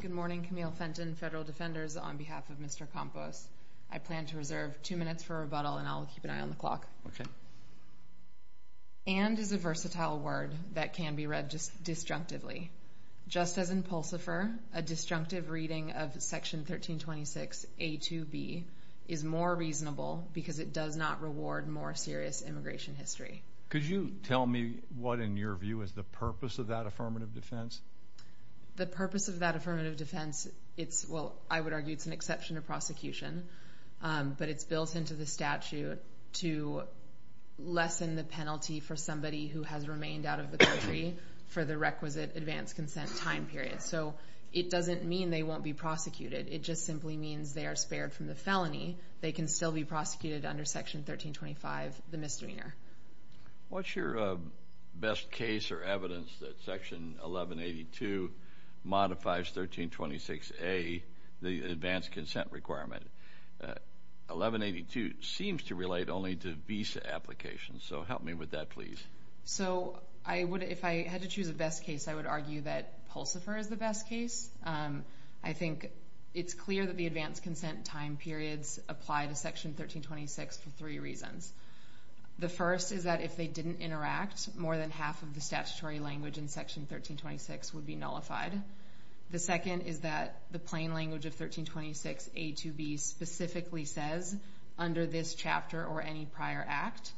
Good morning, Camille Fenton, Federal Defenders, on behalf of Mr. Campos. I plan to reserve two minutes for rebuttal and I'll keep an eye on the clock. Okay. And is a versatile word that can be read just disjunctively. Just as in Pulsifer, a disjunctive reading of section 1326 a 2b is more reasonable because it does not reward more serious immigration history. Could you tell me what, in your view, is the purpose of that affirmative defense? The purpose of that affirmative defense, it's, well, I would argue it's an exception to prosecution, but it's built into the statute to lessen the penalty for somebody who has remained out of the country for the requisite advance consent time period. So it doesn't mean they won't be prosecuted. It just simply means they are spared from the felony. They can still be prosecuted under section 1325, the misdemeanor. What's your best case or evidence that section 1182 modifies 1326a, the advance consent requirement? 1182 seems to relate only to visa applications. So help me with that, please. So I would, if I had to choose a best case, I would argue that Pulsifer is the best case. I think it's clear that the advance consent time periods apply to section 1326 for three reasons. The first is that if they didn't interact, more than half of the statutory language in section 1326 would be nullified. The second is that the plain language of 1326a to b specifically says, under this chapter or any prior act.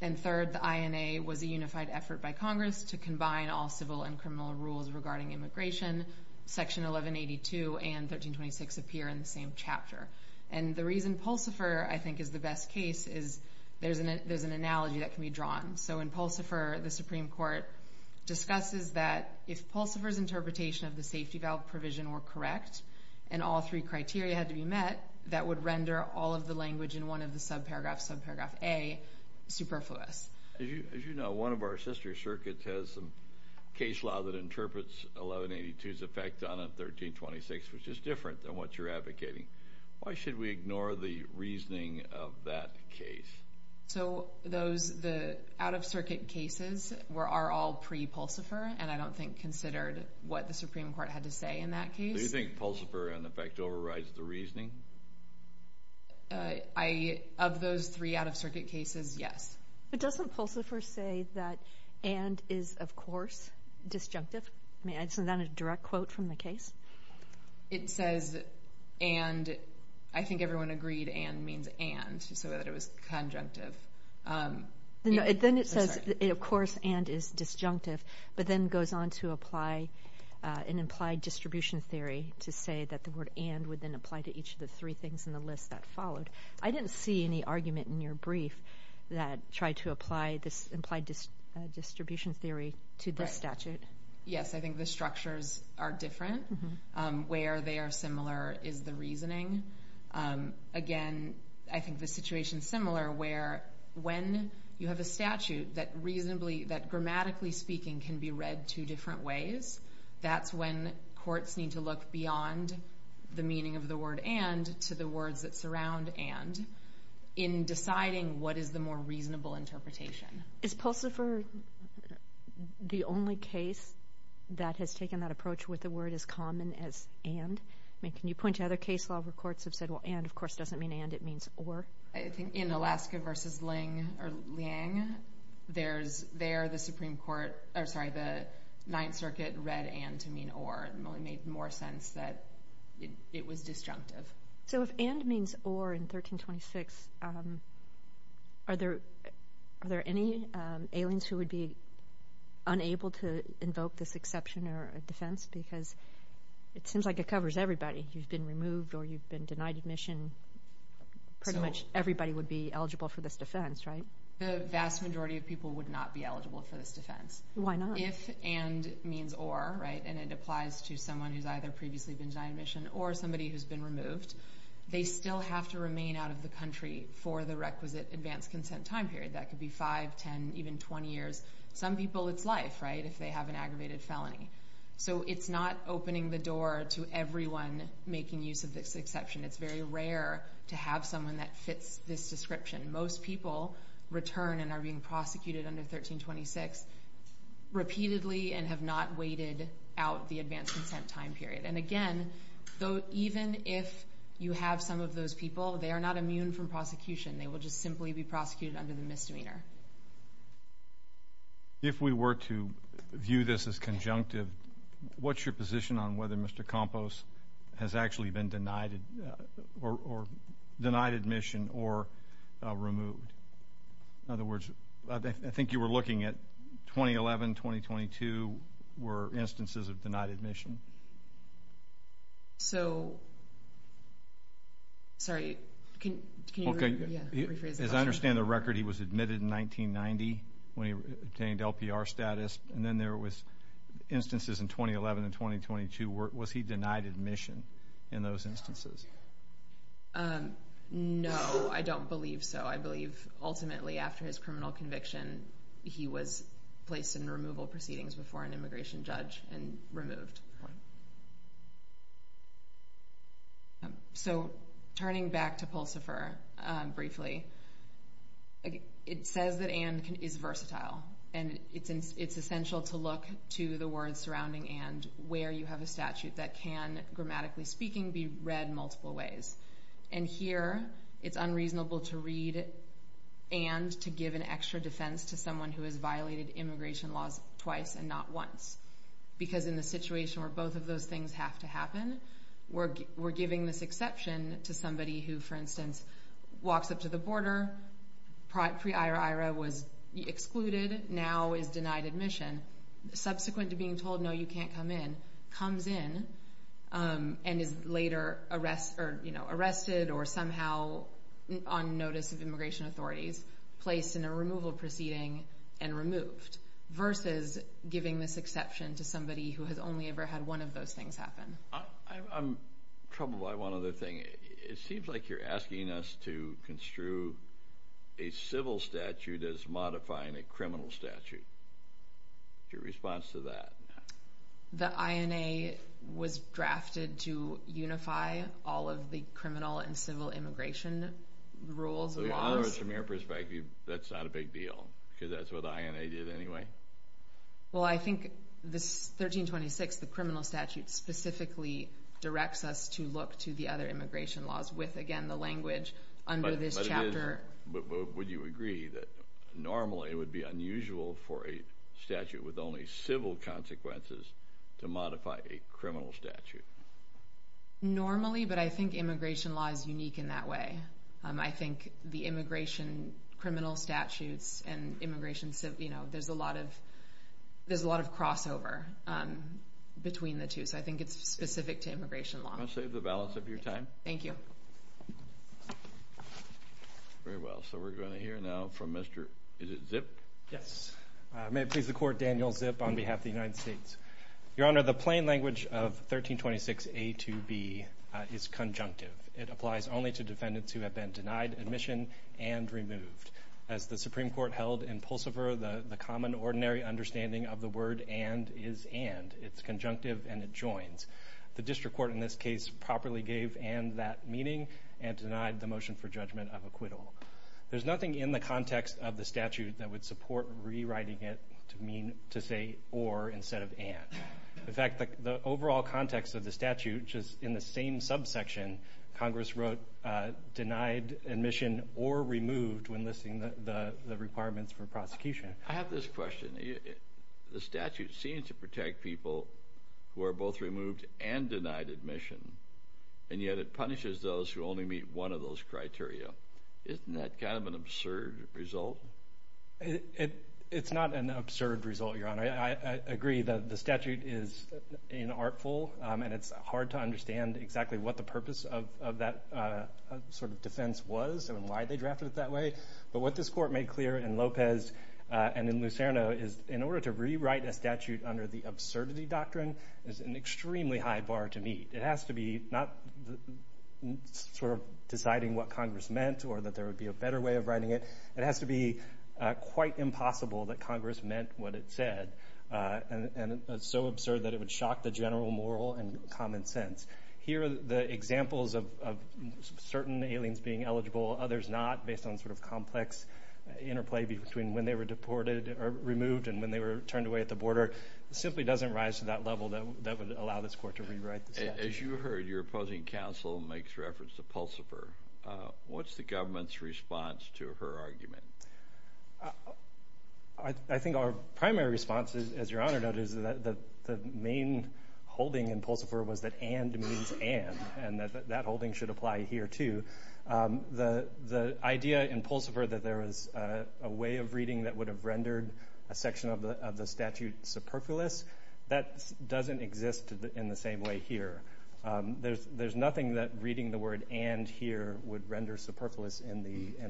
And third, the INA was a unified effort by Congress to combine all civil and criminal rules regarding immigration. Section 1182 and 1326 appear in the same chapter. And the reason Pulsifer, I think, is the best case is there's an analogy that can be drawn. So in Pulsifer, the Supreme Court discusses that if Pulsifer's interpretation of the safety valve provision were correct, and all three criteria had to be met, that would render all of the language in one of the subparagraphs, subparagraph a, superfluous. As you know, one of our subparagraphs, your circuit has some case law that interprets 1182's effect on 1326, which is different than what you're advocating. Why should we ignore the reasoning of that case? So those, the out of circuit cases are all pre Pulsifer, and I don't think considered what the Supreme Court had to say in that case. Do you think Pulsifer, in effect, overrides the reasoning? Of those three out of circuit cases, yes. But doesn't Pulsifer say that and is, of course, disjunctive? I mean, isn't that a direct quote from the case? It says, and, I think everyone agreed and means and, so that it was conjunctive. Then it says, of course, and is disjunctive, but then goes on to apply an implied distribution theory to say that the word and would then apply to each of the three things in the list that followed. I didn't see any argument in your brief that tried to apply this implied distribution theory to this statute. Yes, I think the structures are different. Where they are similar is the reasoning. Again, I think the situation is similar where when you have a statute that reasonably, that grammatically speaking, can be read two different ways, that's when courts need to look beyond the meaning of the word and to the words that surround and in deciding what is the more reasonable interpretation. Is Pulsifer the only case that has taken that approach with the word as common as and? I mean, can you point to other case law where courts have said, well, and, of course, doesn't mean and, it means or? I think in Alaska versus Liang, there's there the Supreme Court... Sorry, the Ninth Circuit read and to mean or and made more sense that it was disjunctive. So if and means or in 1326, are there any aliens who would be unable to invoke this exception or a defense? Because it seems like it covers everybody. You've been removed or you've been denied admission. Pretty much everybody would be eligible for this defense, right? The vast majority of people would not be eligible for this defense. Why not? If and means or, right? And it applies to someone who's either previously been denied admission or somebody who's been removed. They still have to remain out of the country for the requisite advanced consent time period. That could be five, 10, even 20 years. Some people, it's life, right, if they have an aggravated felony. So it's not opening the door to everyone making use of this exception. It's very rare to have someone that fits this description. Most people return and are being prosecuted under 1326 repeatedly and have not waited out the advanced consent time period. And again, though, even if you have some of those people, they are not immune from prosecution. They will just simply be prosecuted under the misdemeanor. If we were to view this as conjunctive, what's your position on whether Mr. Campos has actually been denied or denied admission or removed? In other words, I think you were looking at 2011, 2022 were instances of denied admission. So, sorry, can you rephrase the question? As I understand the record, he was admitted in 1990 when he obtained LPR status and then there was instances in 2011 and 2022. Was he denied admission in those instances? I believe ultimately after his criminal conviction, he was placed in removal proceedings before an immigration judge and removed. So turning back to PULSIFER briefly, it says that and is versatile. And it's essential to look to the words surrounding and where you have a statute that can, grammatically speaking, be read multiple ways. And here, it's unreasonable to read and to give an extra defense to someone who has violated immigration laws twice and not once. Because in the situation where both of those things have to happen, we're giving this exception to somebody who, for instance, walks up to the border, pre IRA was excluded, now is denied admission. Subsequent to being told, no, you can't come in, comes in and is later arrested or somehow on notice of immigration authorities, placed in a removal proceeding and removed versus giving this exception to somebody who has only ever had one of those things happen. I'm troubled by one other thing. It seems like you're asking us to construe a civil statute as modifying a criminal statute. Your response to that? The INA was drafted to unify all of the criminal and civil immigration rules and laws. From your perspective, that's not a big deal, because that's what the INA did anyway. Well, I think this 1326, the criminal statute specifically directs us to look to the other immigration laws with, again, the language under this chapter. But would you agree that normally it would be unusual for a state with only civil consequences to modify a criminal statute? Normally, but I think immigration law is unique in that way. I think the immigration criminal statutes and immigration civil... There's a lot of crossover between the two, so I think it's specific to immigration law. Can I save the balance of your time? Thank you. Very well. So we're gonna hear now from Mr... Is it Zip? Yes. May it please the court, Daniel Zip on behalf of the United States. Your Honor, the plain language of 1326 A to B is conjunctive. It applies only to defendants who have been denied admission and removed. As the Supreme Court held in Pulsiver, the common ordinary understanding of the word and is and. It's conjunctive and it joins. The district court in this case properly gave and that meaning and denied the motion for judgment of acquittal. There's nothing in the context of the statute that would support rewriting it to mean... To say or instead of and. In fact, the overall context of the statute, which is in the same subsection, Congress wrote denied admission or removed when listing the requirements for prosecution. I have this question. The statute seems to protect people who are both removed and denied admission, and yet it punishes those who only meet one of those criteria. Isn't that kind of an absurd result? It's not an absurd result, Your Honor. I agree that the statute is inartful and it's hard to understand exactly what the purpose of that defense was and why they drafted it that way. But what this court made clear in Lopez and in Lucerno is in order to rewrite a statute under the absurdity doctrine is an extremely high bar to meet. It has to be not deciding what Congress meant or that there would be a better way of writing it. It has to be quite impossible that Congress meant what it said, and it's so absurd that it would shock the general moral and common sense. Here, the examples of certain aliens being eligible, others not, based on complex interplay between when they were deported or removed and when they were turned away at the border, simply doesn't rise to that level. As you heard, your opposing counsel makes reference to Pulsifer. What's the government's response to her argument? I think our primary response, as Your Honor noted, is that the main holding in Pulsifer was that and means and, and that that holding should apply here too. The idea in Pulsifer that there was a way of reading that would have rendered a section of the statute superfluous, that doesn't exist in the same way here. There's nothing that reading the word and here would render superfluous in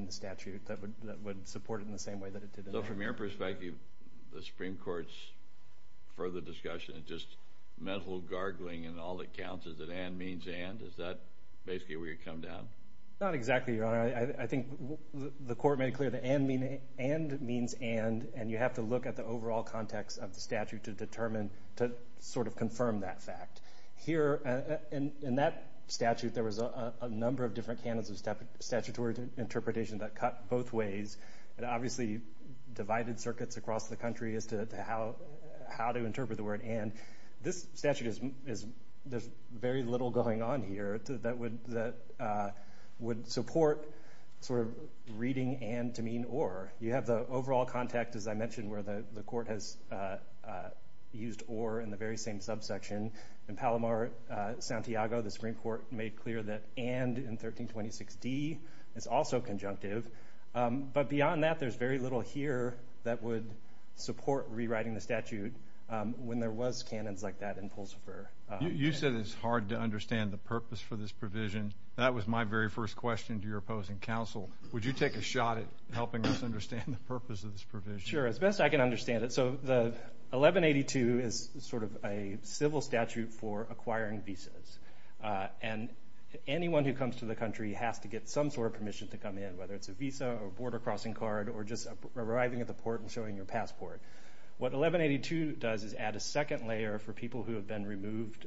the statute that would support it in the same way that it did in there. So from your perspective, the Supreme Court's further discussion of just mental gargling and all that counts, is that and means and? Is that basically where you're coming down? Not exactly, Your Honor. I think the Court made it clear that and means and, and you have to look at the overall context of the statute to determine, to sort of confirm that fact. Here, in that statute, there was a number of different canons of statutory interpretation that cut both ways, and obviously divided circuits across the country as to how to interpret the word and. This statute is... There's very little going on here that would support sort of reading and to mean or. You have the overall context, as I mentioned, where the Court has used or in the very same subsection. In Palomar, Santiago, the Supreme Court made clear that and in 1326D is also conjunctive. But beyond that, there's very little here that would support rewriting the statute when there was canons like that in Pulsifer. You said it's hard to understand the purpose for this provision. That was my very first question to your opposing counsel. Would you take a shot at helping us understand the purpose of this provision? Sure, as best I can understand it. So the 1182 is sort of a civil statute for acquiring visas. And anyone who comes to the country has to get some sort of permission to come in, whether it's a visa or border crossing card or just arriving at the port and showing your passport. What 1182 does is add a second layer for people who have been removed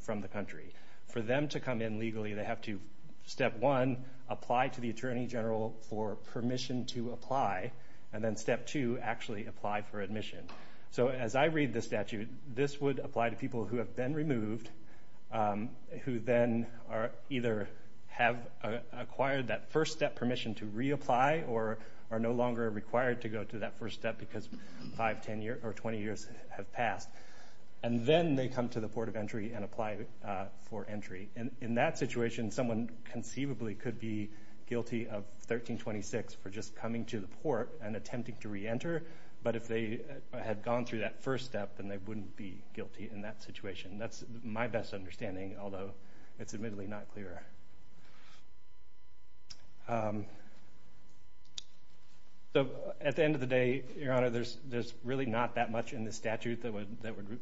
from the country. For them to come in legally, they have to, step one, apply to the Attorney General for permission to apply, and then step two, actually apply for admission. So as I read the statute, this would apply to people who have been removed, who then either have acquired that first step permission to reapply or are no longer required to go to that first step because 5, 10 years or 20 years have passed. And then they come to the port of entry and apply for entry. And in that situation, someone conceivably could be guilty of 1326 for just coming to the port and attempting to reenter. But if they had gone through that first step, then they wouldn't be guilty in that situation. That's my best understanding, although it's admittedly not clearer. So at the end of the day, Your Honor, there's really not that much in the statute that would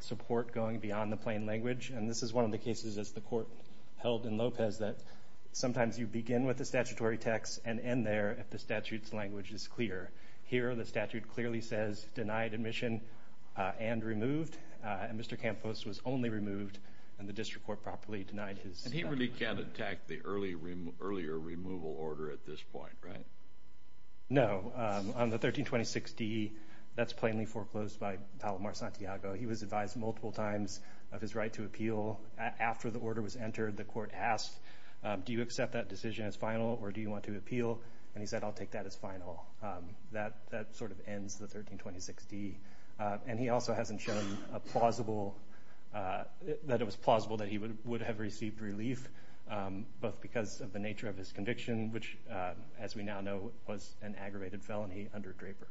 support going beyond the plain language. And this is one of the cases, as the court held in Lopez, that sometimes you begin with the statutory text and end there if the statute's language is clear. Here, the statute clearly says, denied admission and removed. And Mr. Campos was only removed, and the district court properly denied his... And he really can't attack the earlier removal order at this time. He was advised multiple times of his right to appeal after the order was entered. The court asked, do you accept that decision as final or do you want to appeal? And he said, I'll take that as final. That sort of ends the 1326D. And he also hasn't shown that it was plausible that he would have received relief, both because of the nature of his conviction, which, as we now know, was an aggravated felony under Draper.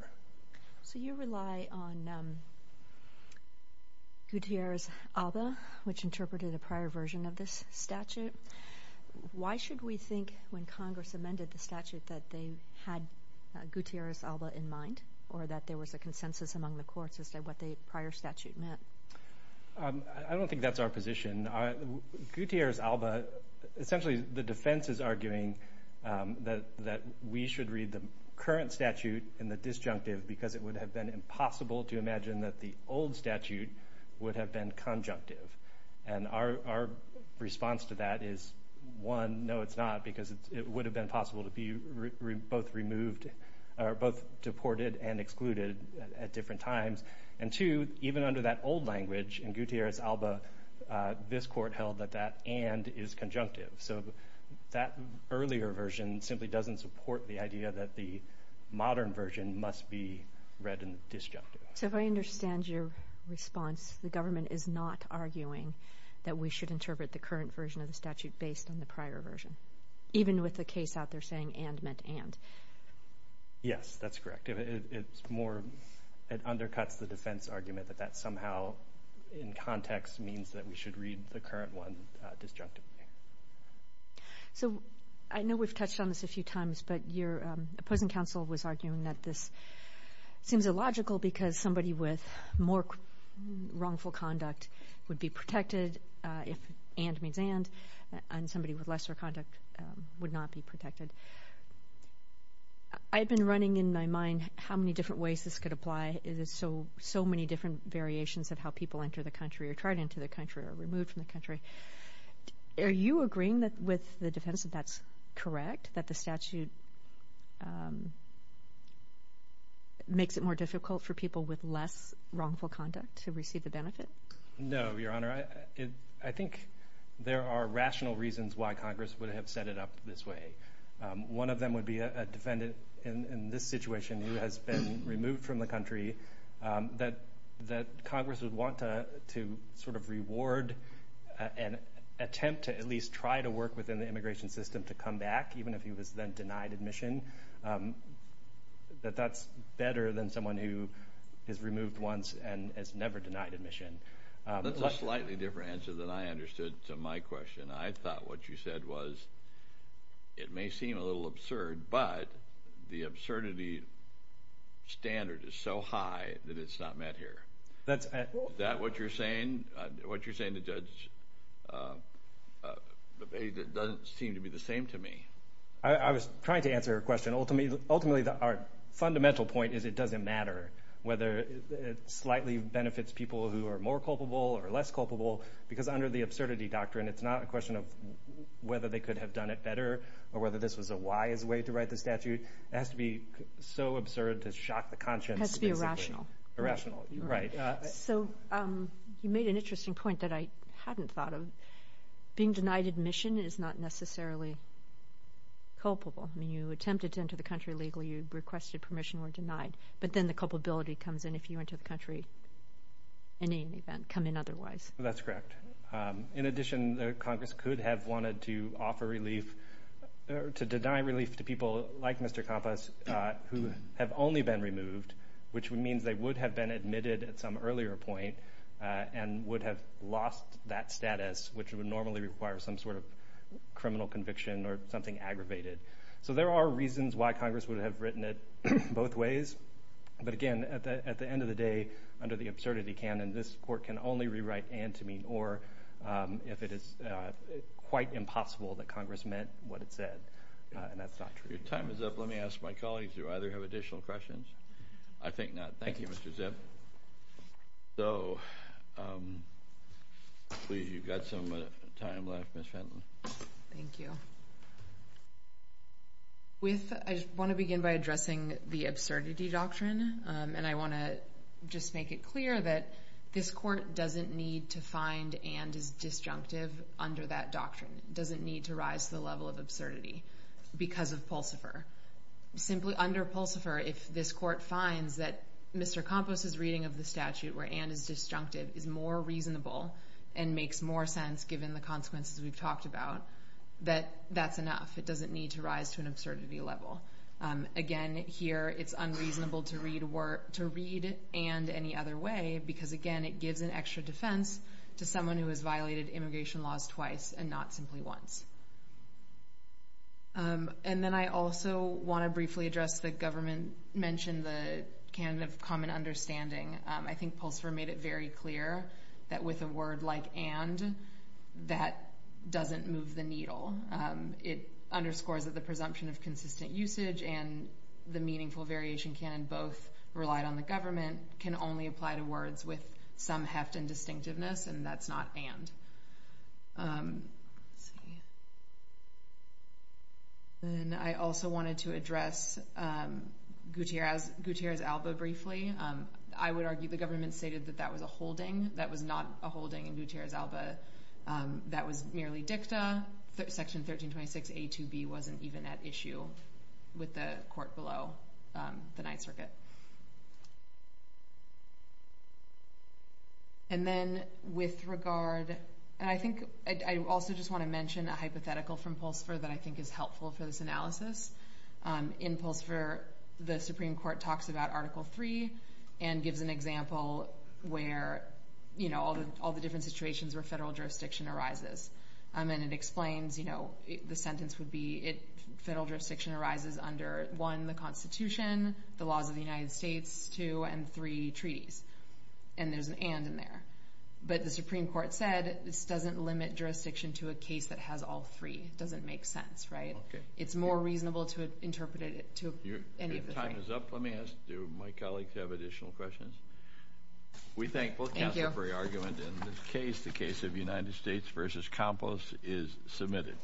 So you rely on Gutierrez Alba, which interpreted a prior version of this statute. Why should we think, when Congress amended the statute, that they had Gutierrez Alba in mind, or that there was a consensus among the courts as to what the prior statute meant? I don't think that's our position. Gutierrez Alba... Essentially, the defense is arguing that we should read the current statute in the disjunctive, because it would have been impossible to imagine that the old statute would have been conjunctive. And our response to that is, one, no, it's not, because it would have been possible to be both removed... Or both deported and excluded at different times. And two, even under that old language in Gutierrez Alba, this court held that that and is conjunctive. So that earlier version simply doesn't support the idea that the modern version must be read in the disjunctive. So if I understand your response, the government is not arguing that we should interpret the current version of the statute based on the prior version, even with the case out there saying and meant and. Yes, that's correct. It's more... It undercuts the defense argument that that somehow, in context, means that we should read the current one disjunctively. So I know we've touched on this a few times, but your opposing counsel was arguing that this seems illogical because somebody with more wrongful conduct would be protected if and means and, and somebody with lesser conduct would not be protected. I've been running in my mind how many different ways this could apply. It is so, so many different variations of how people enter the country or tried into the country or removed from the country. Are you agreeing that with the defense that that's correct, that the statute makes it more difficult for people with less wrongful conduct to receive the benefit? No, Your Honor. I think there are rational reasons why Congress would have set it up this way. One of them would be a defendant in this situation who has been removed from the country, that Congress would want to sort of reward an attempt to at least try to work within the immigration system to come back, even if he was then denied admission, that that's better than someone who is removed once and has never denied admission. That's a slightly different answer than I understood to my question. I thought what you said was, it may seem a little absurd, but the absurdity standard is so high that it's not met here. Is that what you're saying? What you're saying to judge doesn't seem to be the same to me. I was trying to answer a question. Ultimately, our fundamental point is it doesn't matter whether it slightly benefits people who are more culpable or less culpable, because under the statute, it has to be so absurd to shock the conscience. It has to be irrational. Irrational, right. You made an interesting point that I hadn't thought of. Being denied admission is not necessarily culpable. You attempted to enter the country legally, you requested permission, were denied, but then the culpability comes in if you enter the country in any event, come in otherwise. That's correct. In addition, Congress could have wanted to offer relief or to deny relief to people like Mr. Campos, who have only been removed, which means they would have been admitted at some earlier point and would have lost that status, which would normally require some sort of criminal conviction or something aggravated. So there are reasons why Congress would have written it both ways. But again, at the end of the day, under the absurdity canon, this court can only rewrite and to mean or if it is quite impossible that Congress meant what it said, and that's not true. Your time is up. Let me ask my colleagues, do either have additional questions? I think not. Thank you, Mr. Zipp. So, please, you've got some time left, Ms. Fenton. Thank you. I want to begin by addressing the absurdity doctrine, and I want to just make it clear that this court doesn't need to find and is disjunctive under that doctrine. It doesn't need to rise to the level of absurdity because of Pulsifer. Simply under Pulsifer, if this court finds that Mr. Campos's reading of the statute where and is disjunctive is more reasonable and makes more sense given the consequences we've talked about, that that's enough. It doesn't need to rise to an absurdity level. Again, here, it's unreasonable to read and any other way because, again, it gives an extra defense to someone who has and not simply wants. And then I also want to briefly address the government mentioned the canon of common understanding. I think Pulsifer made it very clear that with a word like and, that doesn't move the needle. It underscores that the presumption of consistent usage and the meaningful variation canon both relied on the government can only apply to words with some heft and distinctiveness, and that's not and. And I also wanted to address Gutierrez-Alba briefly. I would argue the government stated that that was a holding. That was not a holding in Gutierrez-Alba. That was merely dicta. Section 1326a to b wasn't even at issue with the court below the Ninth Circuit. And then with regard, and I think I also just want to mention a hypothetical from Pulsifer that I think is helpful for this analysis. In Pulsifer, the Supreme Court talks about Article III and gives an example where all the different situations where federal jurisdiction arises. And it explains, you know, the sentence would be federal jurisdiction arises under, one, the Constitution, the laws of the United States, two, and three, treaties. And there's an and in there. But the Supreme Court said this doesn't limit jurisdiction to a case that has all three. It doesn't make sense, right? It's more reasonable to interpret it to any of the three. Your time is up. Let me ask, do my colleagues have additional questions? We thank both counsel for your argument. In this case, the case of United States v. Campos is submitted.